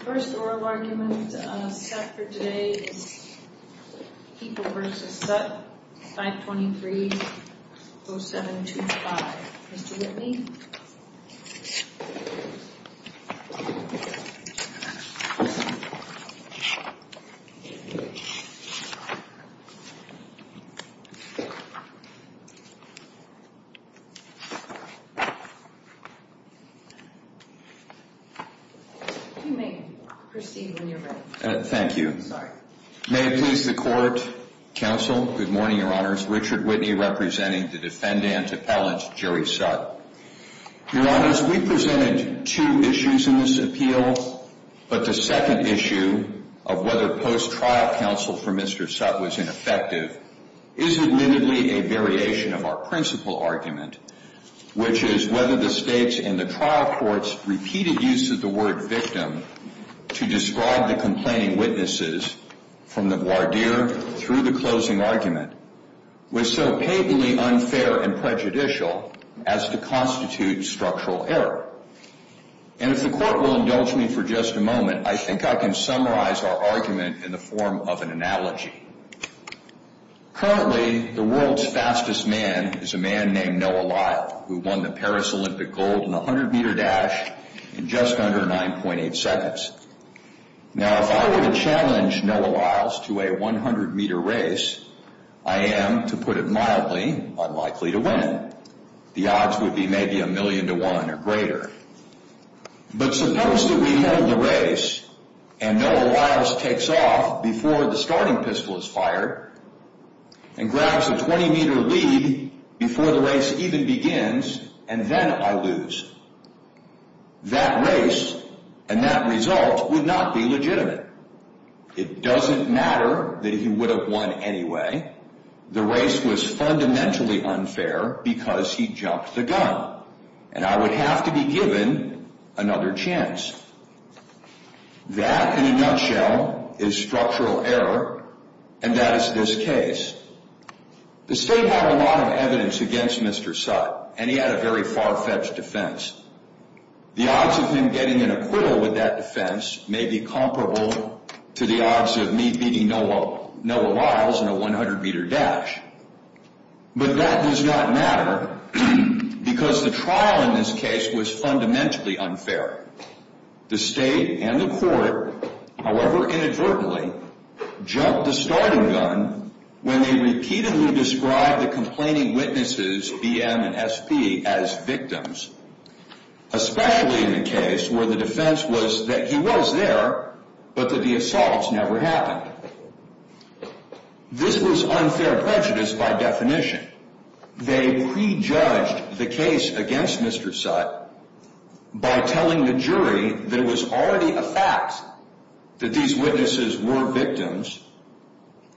First oral argument of Sutt for today is Heaple v. Sutt, 523-0725. Mr. Whitney? Thank you. May it please the court, counsel, good morning, your honors. Richard Whitney representing the defendant appellant Jerry Sutt. Your honors, we presented two issues in this appeal, but the second issue of whether post-trial counsel for Mr. Sutt was ineffective is admittedly a variation of our principal argument, which is whether the state's and the trial court's repeated use of the word victim to describe the complaining witnesses from the voir dire through the closing argument was so patently unfair and prejudicial as to constitute structural error. And if the court will indulge me for just a moment, I think I can summarize our argument in the form of an analogy. Currently, the world's fastest man is a man named Noah Lyle, who won the Paris Olympic gold in the 100 meter dash in just under 9.8 seconds. Now, if I were to challenge Noah Lyle to a 100 meter race, I am, to put it mildly, unlikely to win. The odds would be maybe a million to one or greater. But suppose that we hold the race and Noah Lyle takes off before the starting pistol is fired and grabs a 20 meter lead before the race even begins and then I lose. That race and that result would not be legitimate. It doesn't matter that he would have won anyway. The race was fundamentally unfair because he jumped the gun and I would have to be given another chance. That, in a nutshell, is structural error and that is this case. The state had a lot of evidence against Mr. Sutt and he had a very far-fetched defense. The odds of him getting an acquittal with that defense may be comparable to the odds of me beating Noah Lyle in a 100 meter dash. But that does not matter because the trial in this case was fundamentally unfair. The state and the court, however inadvertently, jumped the starting gun when they repeatedly described the complaining witnesses, BM and SP, as victims, especially in the case where the defense was that he was there but that the assaults never happened. This was unfair prejudice by definition. They prejudged the case against Mr. Sutt by telling the jury there was already a fact that these witnesses were victims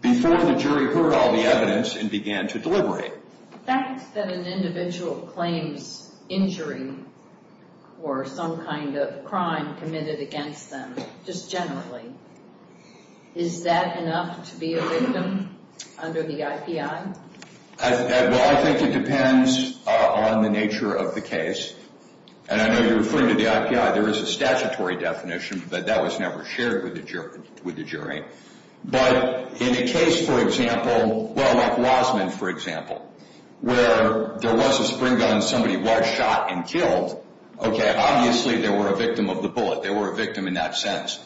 before the jury heard all the evidence and began to deliberate. The fact that an individual claims injury or some kind of crime committed against them, just generally, is that enough to be a victim under the IPI? Well, I think it depends on the nature of the case. And I know you're referring to the IPI. There is a statutory definition but that was never shared with the jury. But in a case, for example, well like Wasman, for example, where there was a spring gun, somebody was shot and killed, okay, obviously they were a victim of the bullet. They were a victim in that sense.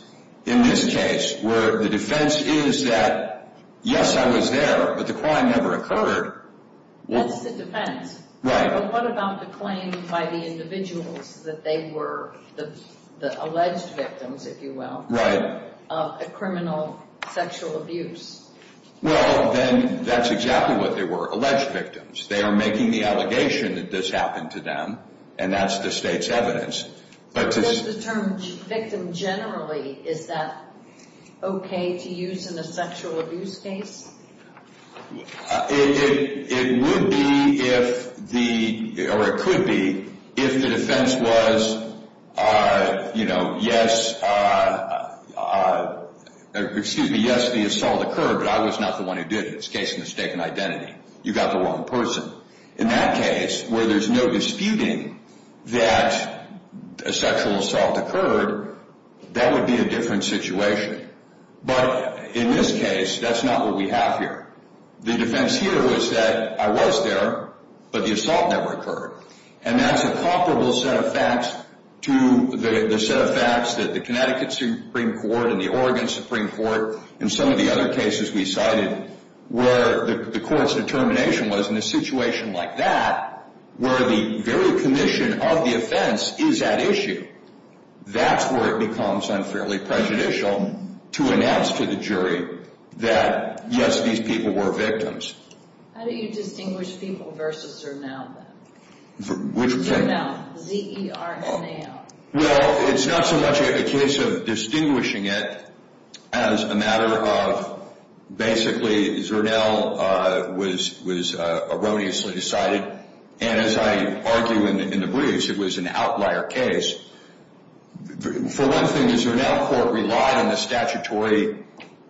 In this case, where the defense is that yes, I was there, but the crime never occurred. That's the defense. Right. But what about the claim by the individuals that they were the alleged victims, if you will? Right. Of a criminal sexual abuse? Well, then that's exactly what they were, alleged victims. They are making the allegation that this happened to them and that's the state's evidence. Does the term victim generally, is that okay to use in a sexual abuse case? It would be if the, or it could be, if the defense was, you know, yes, excuse me, yes the assault occurred but I was not the one who did it. It's a case of mistaken identity. You got the wrong person. In that case, where there's no disputing that a sexual assault occurred, that would be a different situation. But in this case, that's not what we have here. The defense here was that I was there, but the assault never occurred. And that's a comparable set of facts to the set of facts that the Connecticut Supreme Court and the Oregon Supreme Court and some of the other cases we cited, where the court's determination was in a situation like that, where the very commission of the offense is at issue. That's where it becomes unfairly prejudicial to announce to the jury that yes, these people were victims. How do you distinguish people versus surname then? Which? Surname. Z-E-R-N-A-M. Well, it's not so much a case of distinguishing it as a matter of basically Zernel was erroneously decided. And as I argue in the briefs, it was an outlier case. For one thing, the Zernel court relied on the statutory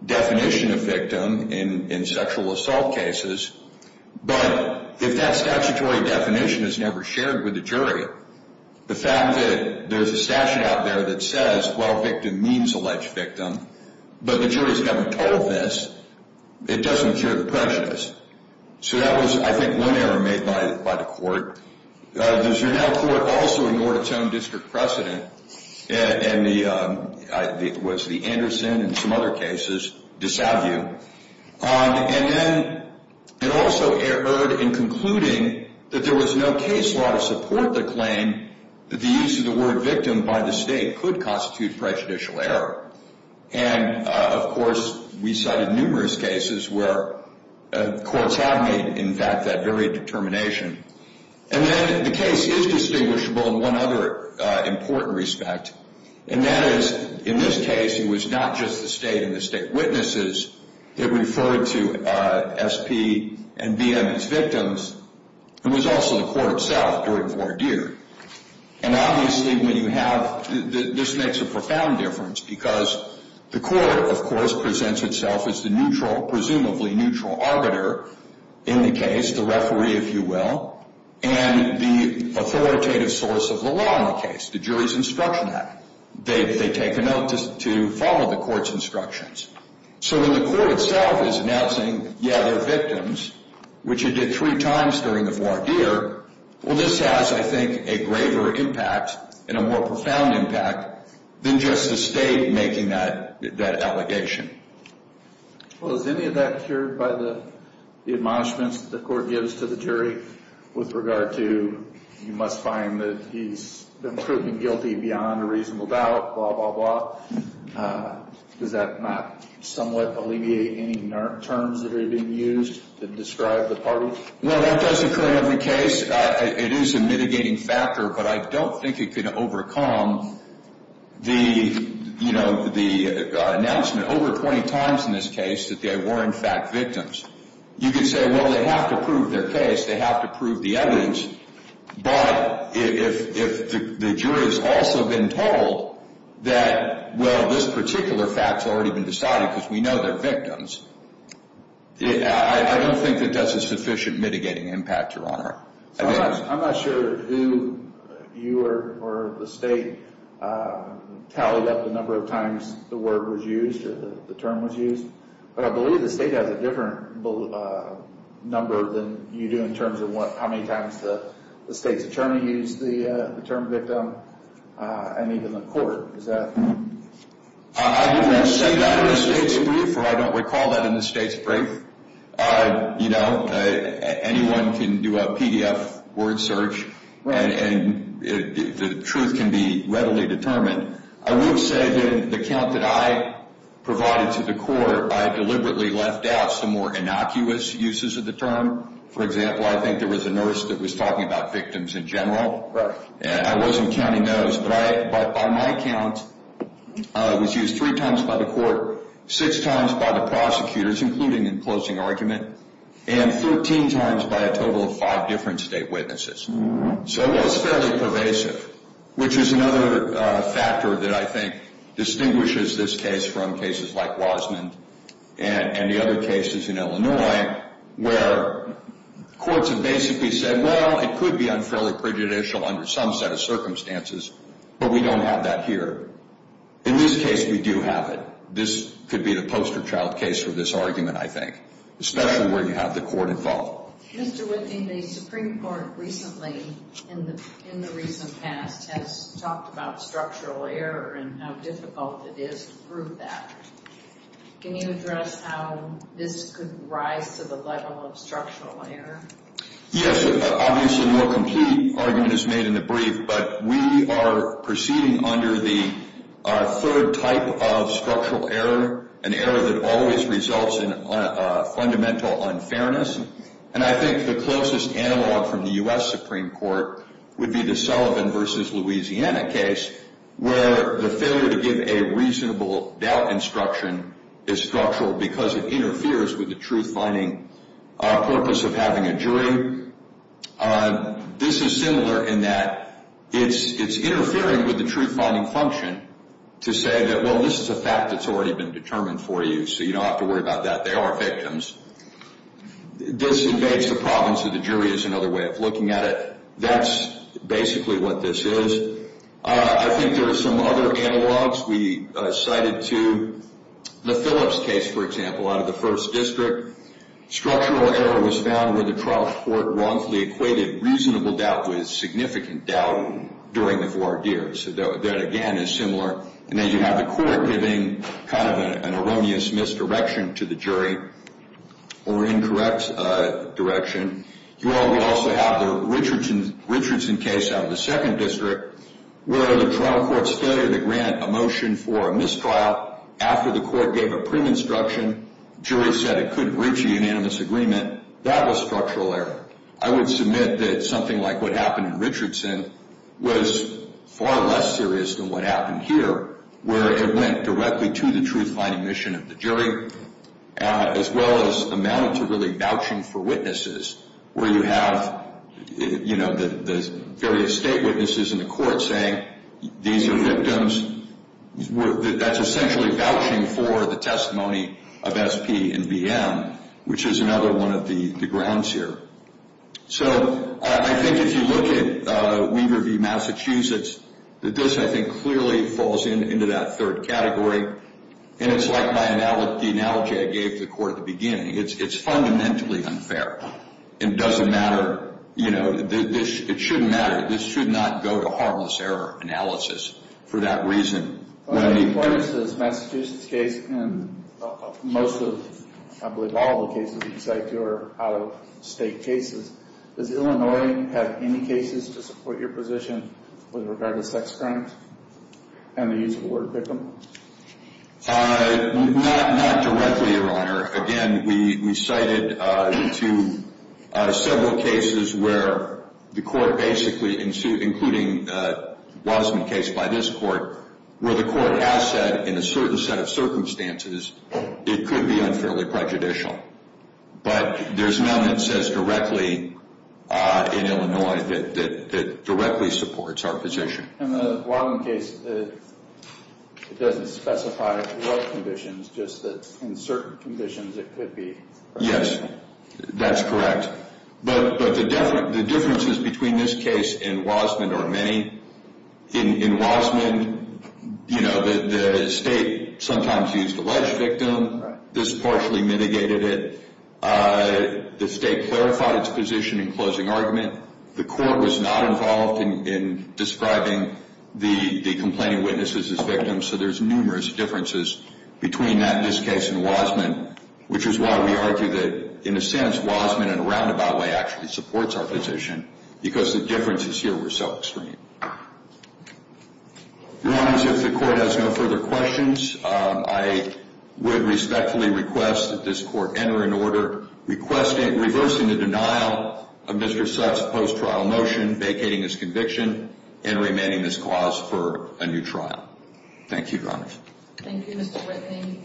definition of victim in sexual assault cases. But if that there's a statute out there that says, well, victim means alleged victim, but the jury has never told this, it doesn't cure the prejudice. So that was, I think, one error made by the court. The Zernel court also ignored its own district precedent, and the, what's the, Anderson and some other cases dissuade you. And then it also erred in concluding that there was no case law to support the claim that the use of the word victim by the state could constitute prejudicial error. And, of course, we cited numerous cases where courts have made, in fact, that very determination. And then the case is distinguishable in one other important respect. And that is, in this case, it was not just the state and the state witnesses. It referred to S.P. and B.M. as themselves during voir dire. And obviously when you have, this makes a profound difference because the court, of course, presents itself as the neutral, presumably neutral, arbiter in the case, the referee, if you will, and the authoritative source of the law in the case, the jury's instruction act. They take a note to follow the court's instructions. So when the court itself is announcing, yeah, they're victims, which it did three times during the voir dire, well, this has, I think, a greater impact and a more profound impact than just the state making that allegation. Well, is any of that cured by the admonishments the court gives to the jury with regard to you must find that he's been proven guilty beyond a reasonable doubt, blah, blah, blah? Does that not somewhat alleviate any terms that are being used to describe the party? Well, that does occur in every case. It is a mitigating factor, but I don't think it can overcome the, you know, the announcement over 20 times in this case that they were in fact victims. You could say, well, they have to prove their case, they have to prove the evidence, but if the jury has also been told that, well, this particular fact's already been decided because we know they're victims, I don't think that does a sufficient mitigating impact, Your Honor. I'm not sure who you or the state tallied up the number of times the word was used or the term was used, but I believe the state has a different number than you do in terms of how many times the state's attorney used the term victim and even the court. Is that? I wouldn't say that in the state's brief or I don't recall that in the state's brief. You know, anyone can do a PDF word search and the truth can be readily determined. I will say that in the count that I provided to the court, I deliberately left out some more innocuous uses of the term. For example, I think there was a nurse that was talking about victims in general, and I wasn't counting those, but on my count, it was used three times by the court, six times by the prosecutors, including in closing argument, and 13 times by a total of five different state witnesses. So it was fairly pervasive, which is another factor that I think distinguishes this case from cases like Wasmund and the other cases in Illinois where courts have basically said, well, it could be unfairly prejudicial under some set of circumstances, but we don't have that here. In this case, we do have it. This could be the poster child case for this argument, I think, especially where you have the court involved. Mr. Whitney, the Supreme Court recently, in the recent past, has talked about structural error and how difficult it is to prove that. Can you address how this could rise to the level of structural error? Yes. Obviously, no complete argument is made in the brief, but we are proceeding under the third type of structural error, an error that always results in fundamental unfairness, and I think the closest analog from the U.S. Supreme Court would be the Sullivan v. Louisiana case where the failure to give a reasonable doubt instruction is structural because it doesn't have a jury. This is similar in that it's interfering with the truth-finding function to say that, well, this is a fact that's already been determined for you, so you don't have to worry about that. They are victims. This invades the province of the jury as another way of looking at it. That's basically what this is. I think there are some other analogs. We cited to the Phillips case, for example, out of the 1st District. Structural error was found where the trial court wrongfully equated reasonable doubt with significant doubt during the four years. That, again, is similar. Then you have the court giving kind of an erroneous misdirection to the jury or incorrect direction. You also have the Richardson case out of the 2nd District where the trial court's failure to grant a motion for a mistrial after the court gave a prim instruction, jury said it couldn't reach a unanimous agreement. That was structural error. I would submit that something like what happened in Richardson was far less serious than what happened here where it went directly to the truth-finding mission of the jury as well as amounted to really vouching for witnesses where you have the various state witnesses in the court saying these are victims. That's essentially vouching for the testimony of SP and BM, which is another one of the grounds here. I think if you look at Weaver v. Massachusetts, this, I think, clearly falls into that third category. It's like the analogy I gave to the court at the beginning. It's fundamentally unfair. It doesn't matter. It shouldn't matter. This should not go to harmless error analysis for that reason. In Weaver v. Massachusetts case and most of, I believe, all of the cases you cite here are out-of-state cases, does Illinois have any cases to support your position with regard to sex crimes and the use of the word victim? Not directly, Your Honor. Again, we cited several cases where the court basically, including the Wasserman case by this court, where the court has said in a certain set of circumstances it could be unfairly prejudicial. But there's none that says directly in Illinois that directly supports our position. In the Wasserman case, it doesn't specify what conditions, just that in certain conditions it could be. Yes, that's correct. But the differences between this case and Wasserman are many. In Wasserman, you know, the state sometimes used alleged victim. This partially mitigated it. The state clarified its position in closing argument. The court was not involved in describing the complaining witnesses as victims. So there's numerous differences between that in this case and Wasserman, which is why we argue that in a sense Wasserman in a roundabout way actually supports our position because the differences here were so extreme. Your Honor, as if the court has no further questions, I would respectfully request that this court enter an order requesting, reversing the denial of Mr. Sutt's post-trial motion vacating his conviction and remanding this clause for a new trial. Thank you, Your Honor. Thank you, Mr. Whitney.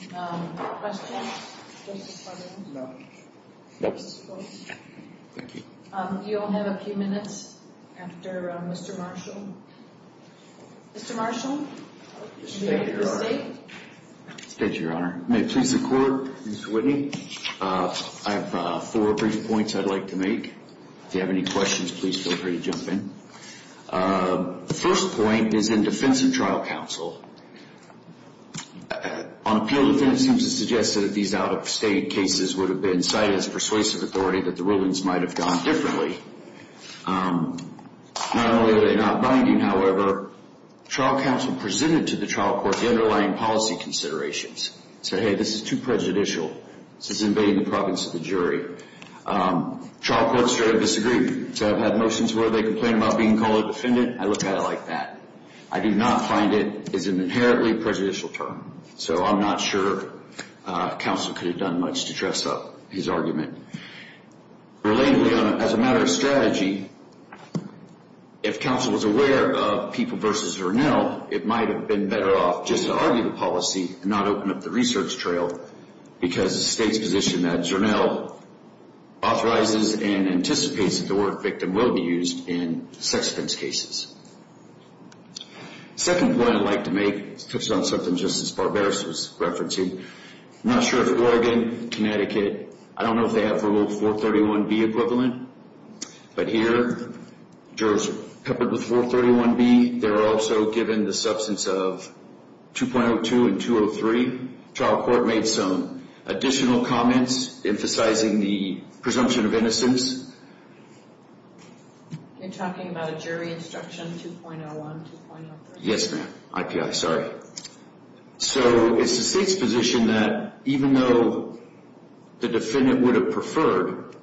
Questions? No. Thank you. You'll have a few minutes after Mr. Marshall. Mr. Marshall? State your Honor. May it please the Court, Mr. Whitney? I have four brief points I'd like to make. If you have any questions, please feel free to jump in. The first point is in defense of trial counsel. On appeal defense, it seems to suggest that these out-of-state cases would have been cited as persuasive authority, that the rulings might have gone differently. Not only are they not binding, however, trial counsel presented to the trial court the underlying policy considerations. Said, hey, this is too prejudicial. This is invading the province of the jury. Trial courts should have disagreed. So I've had motions where they complain about being called a defendant, I look at it like that. I do not find it is an inherently prejudicial term. So I'm not sure counsel could have done much to dress up his argument. Relatedly, as a matter of strategy, if counsel was aware of People v. Zernell, it might have been better off just to argue the policy and not open up the research trail because the state's position that Zernell authorizes and anticipates that the word victim will be used in sex offence cases. The second point I'd like to make touches on something Justice Barberis was referencing. I'm not sure if Oregon, Connecticut, I don't know if they have rule 431B equivalent. But here, jurors are peppered with 431B. They're also given the substance of 2.02 and 203. Trial court made some additional comments emphasizing the presumption of innocence. You're talking about a jury instruction 2.01, 2.03? Yes, ma'am. IPI, sorry. So it's the state's position that even though the defendant would have preferred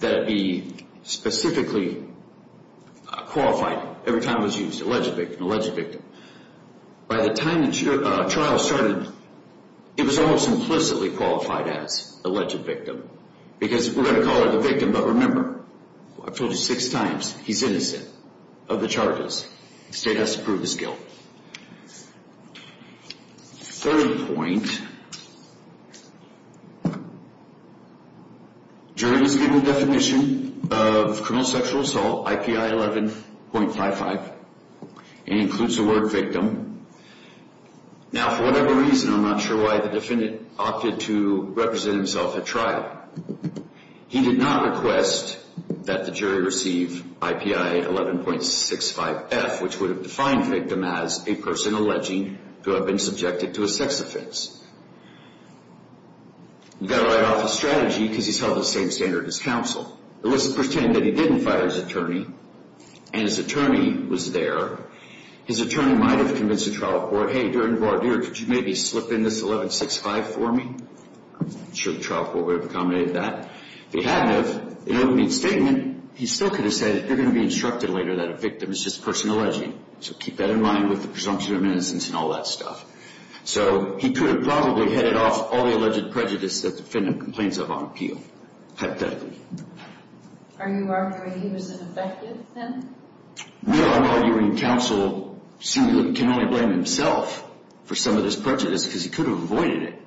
that it be specifically qualified every time it was used, alleged victim, alleged victim. By the time the trial started, it was almost implicitly qualified as alleged victim because we're going to call her the victim, but remember, I've told you six times, he's innocent of the charges. The state has to prove his guilt. Third point, jurors are given the definition of criminal sexual assault, IPI 11.55 and includes the word victim. Now, for whatever reason, I'm not sure why the defendant opted to represent himself at trial. He did not request that the jury receive IPI 11.65F, which would have defined victim as a person alleging to have been subjected to a sex offense. You've got to write off his strategy because he's held the same standard as counsel. Let's pretend that he didn't fire his attorney and his attorney was there. His attorney might have convinced the trial court, hey, during the barbeer, could you maybe slip in this 11.65 for me? I'm not sure the trial court would have accommodated that. If they hadn't have, in opening statement, he still could have said, you're going to be instructed later that a victim is just a person alleging. So keep that in mind with the presumption of innocence and all that stuff. So he could have probably headed off all the alleged prejudice that the defendant complains of on appeal, hypothetically. Are you arguing he was an effective defendant? No, I'm arguing counsel can only blame himself for some of this prejudice because he could have avoided it.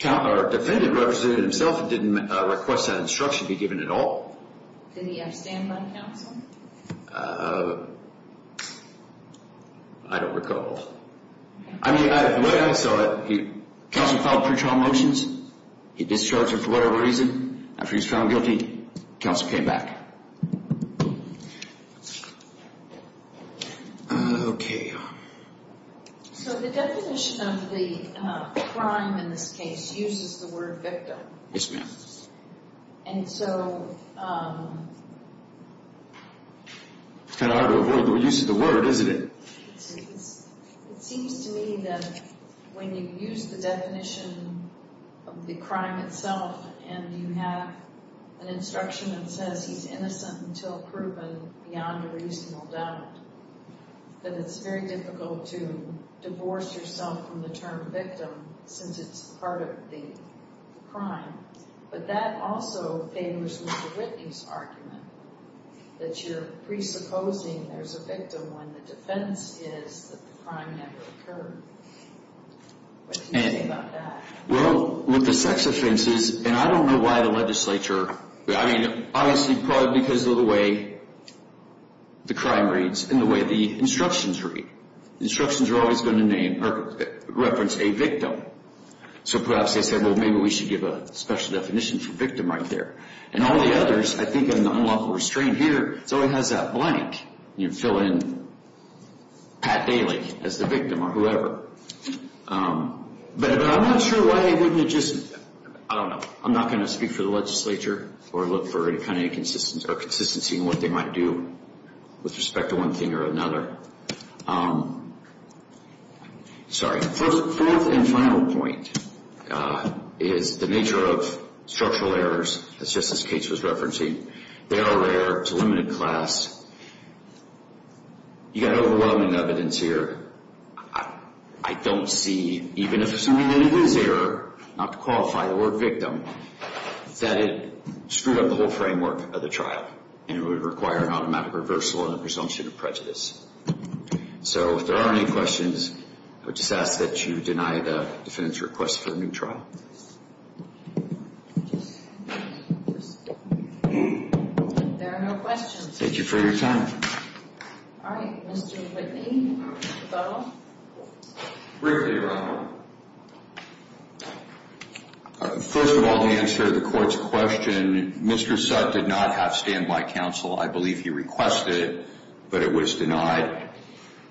The defendant represented himself and didn't request that instruction be given at all. Did he outstand by counsel? I don't recall. The way I saw it, counsel filed pre-trial motions, he discharged him for whatever reason. After he was found guilty, counsel came back. Okay. So the definition of the crime in this case uses the word victim. Yes, ma'am. And so It's kind of hard to avoid the use of the word, isn't it? It seems to me that when you use the definition of the crime itself and you have an instruction that says he's innocent until proven beyond a reasonable doubt, that it's very difficult to divorce yourself from the term victim since it's part of the crime. But that also favors Mr. Whitney's argument that you're presupposing there's a victim when the defense is that the crime never occurred. Well, with the sex offenses, and I don't know why the legislature, I mean, obviously probably because of the way the crime reads and the way the instructions read. Instructions are always going to name or reference a victim. So perhaps they said, well, maybe we should give a special definition for victim right there. And all the others, I think in the unlawful restraint here, it always has that blank. You fill in Pat Daly as the victim or whoever. But I'm not sure why they wouldn't have just, I don't know, I'm not going to speak for the legislature or look for any kind of inconsistency in what they might do with respect to one thing or another. Sorry. Fourth and final point is the nature of structural errors, as Justice Cates was referencing. They are rare to limited class. You've got overwhelming evidence here. I don't see, even if assuming that it was error, not to qualify the word victim, that it screwed up the whole framework of the trial. And it would require an automatic reversal and a presumption of prejudice. So if there are any questions, I would just ask that you deny the defendant's request for a new trial. There are no questions. Thank you for your time. All right. Mr. Whitney. Briefly, Your Honor. First of all, to answer the court's question, Mr. Sutt did not have standby counsel. I believe he requested, but it was denied.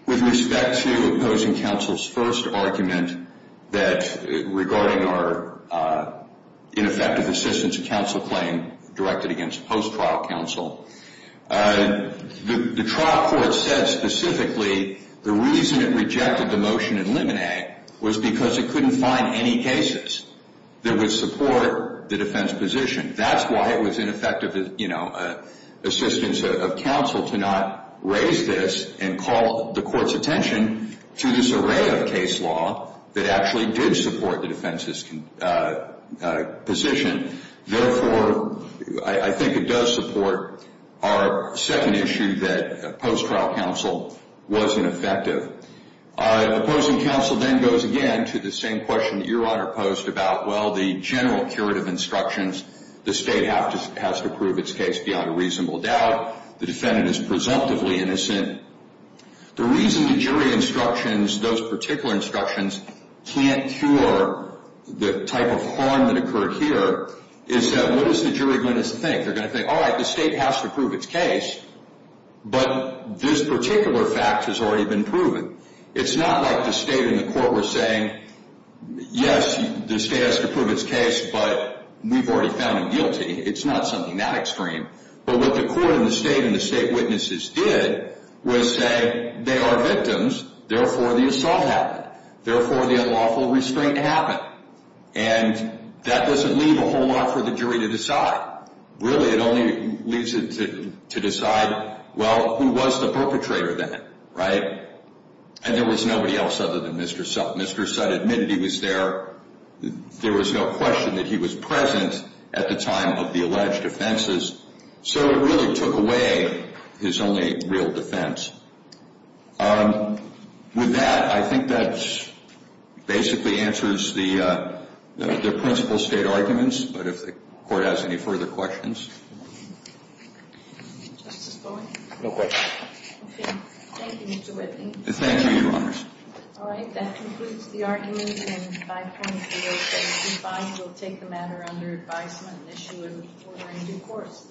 With respect to opposing counsel's first argument regarding our ineffective assistance counsel claim directed against post-trial counsel, the trial court said specifically the reason it rejected the motion in limine was because it couldn't find any cases that would support the defense position. That's why it was ineffective assistance of counsel to not raise this and call the court's attention to this array of case law that actually did support the defense's position. Therefore, I think it does support our second issue that post-trial counsel wasn't effective. Opposing counsel then goes again to the same question that Your Honor posed about, well, the general curative instructions. The state has to prove its case beyond a reasonable doubt. The defendant is presumptively innocent. The reason the jury instructions, those particular instructions, can't cure the type of harm that occurred here is that what is the jury going to think? They're going to think, all right, the state has to prove its case, but this particular fact has already been proven. It's not like the state and the court were saying, yes, the state has to prove its case, but we've already found him guilty. It's not something that extreme. But what the court and the state witnesses did was say, they are victims. Therefore, the assault happened. Therefore, the unlawful restraint happened. And that doesn't leave a whole lot for the jury to decide. Really, it only leaves it to decide, well, who was the perpetrator then, right? And there was nobody else other than Mr. Sutt. Mr. Sutt admitted he was there. There was no question that he was present at the time of the alleged offenses. So it really took away his only real defense. With that, I think that basically answers the principal state arguments. But if the Court has any further questions. Justice Bowen? No questions. Okay. Thank you, Mr. Whitney. Thank you, Your Honors. All right. That concludes the argument in 5.075. We'll take the matter under advisement and issue a new court.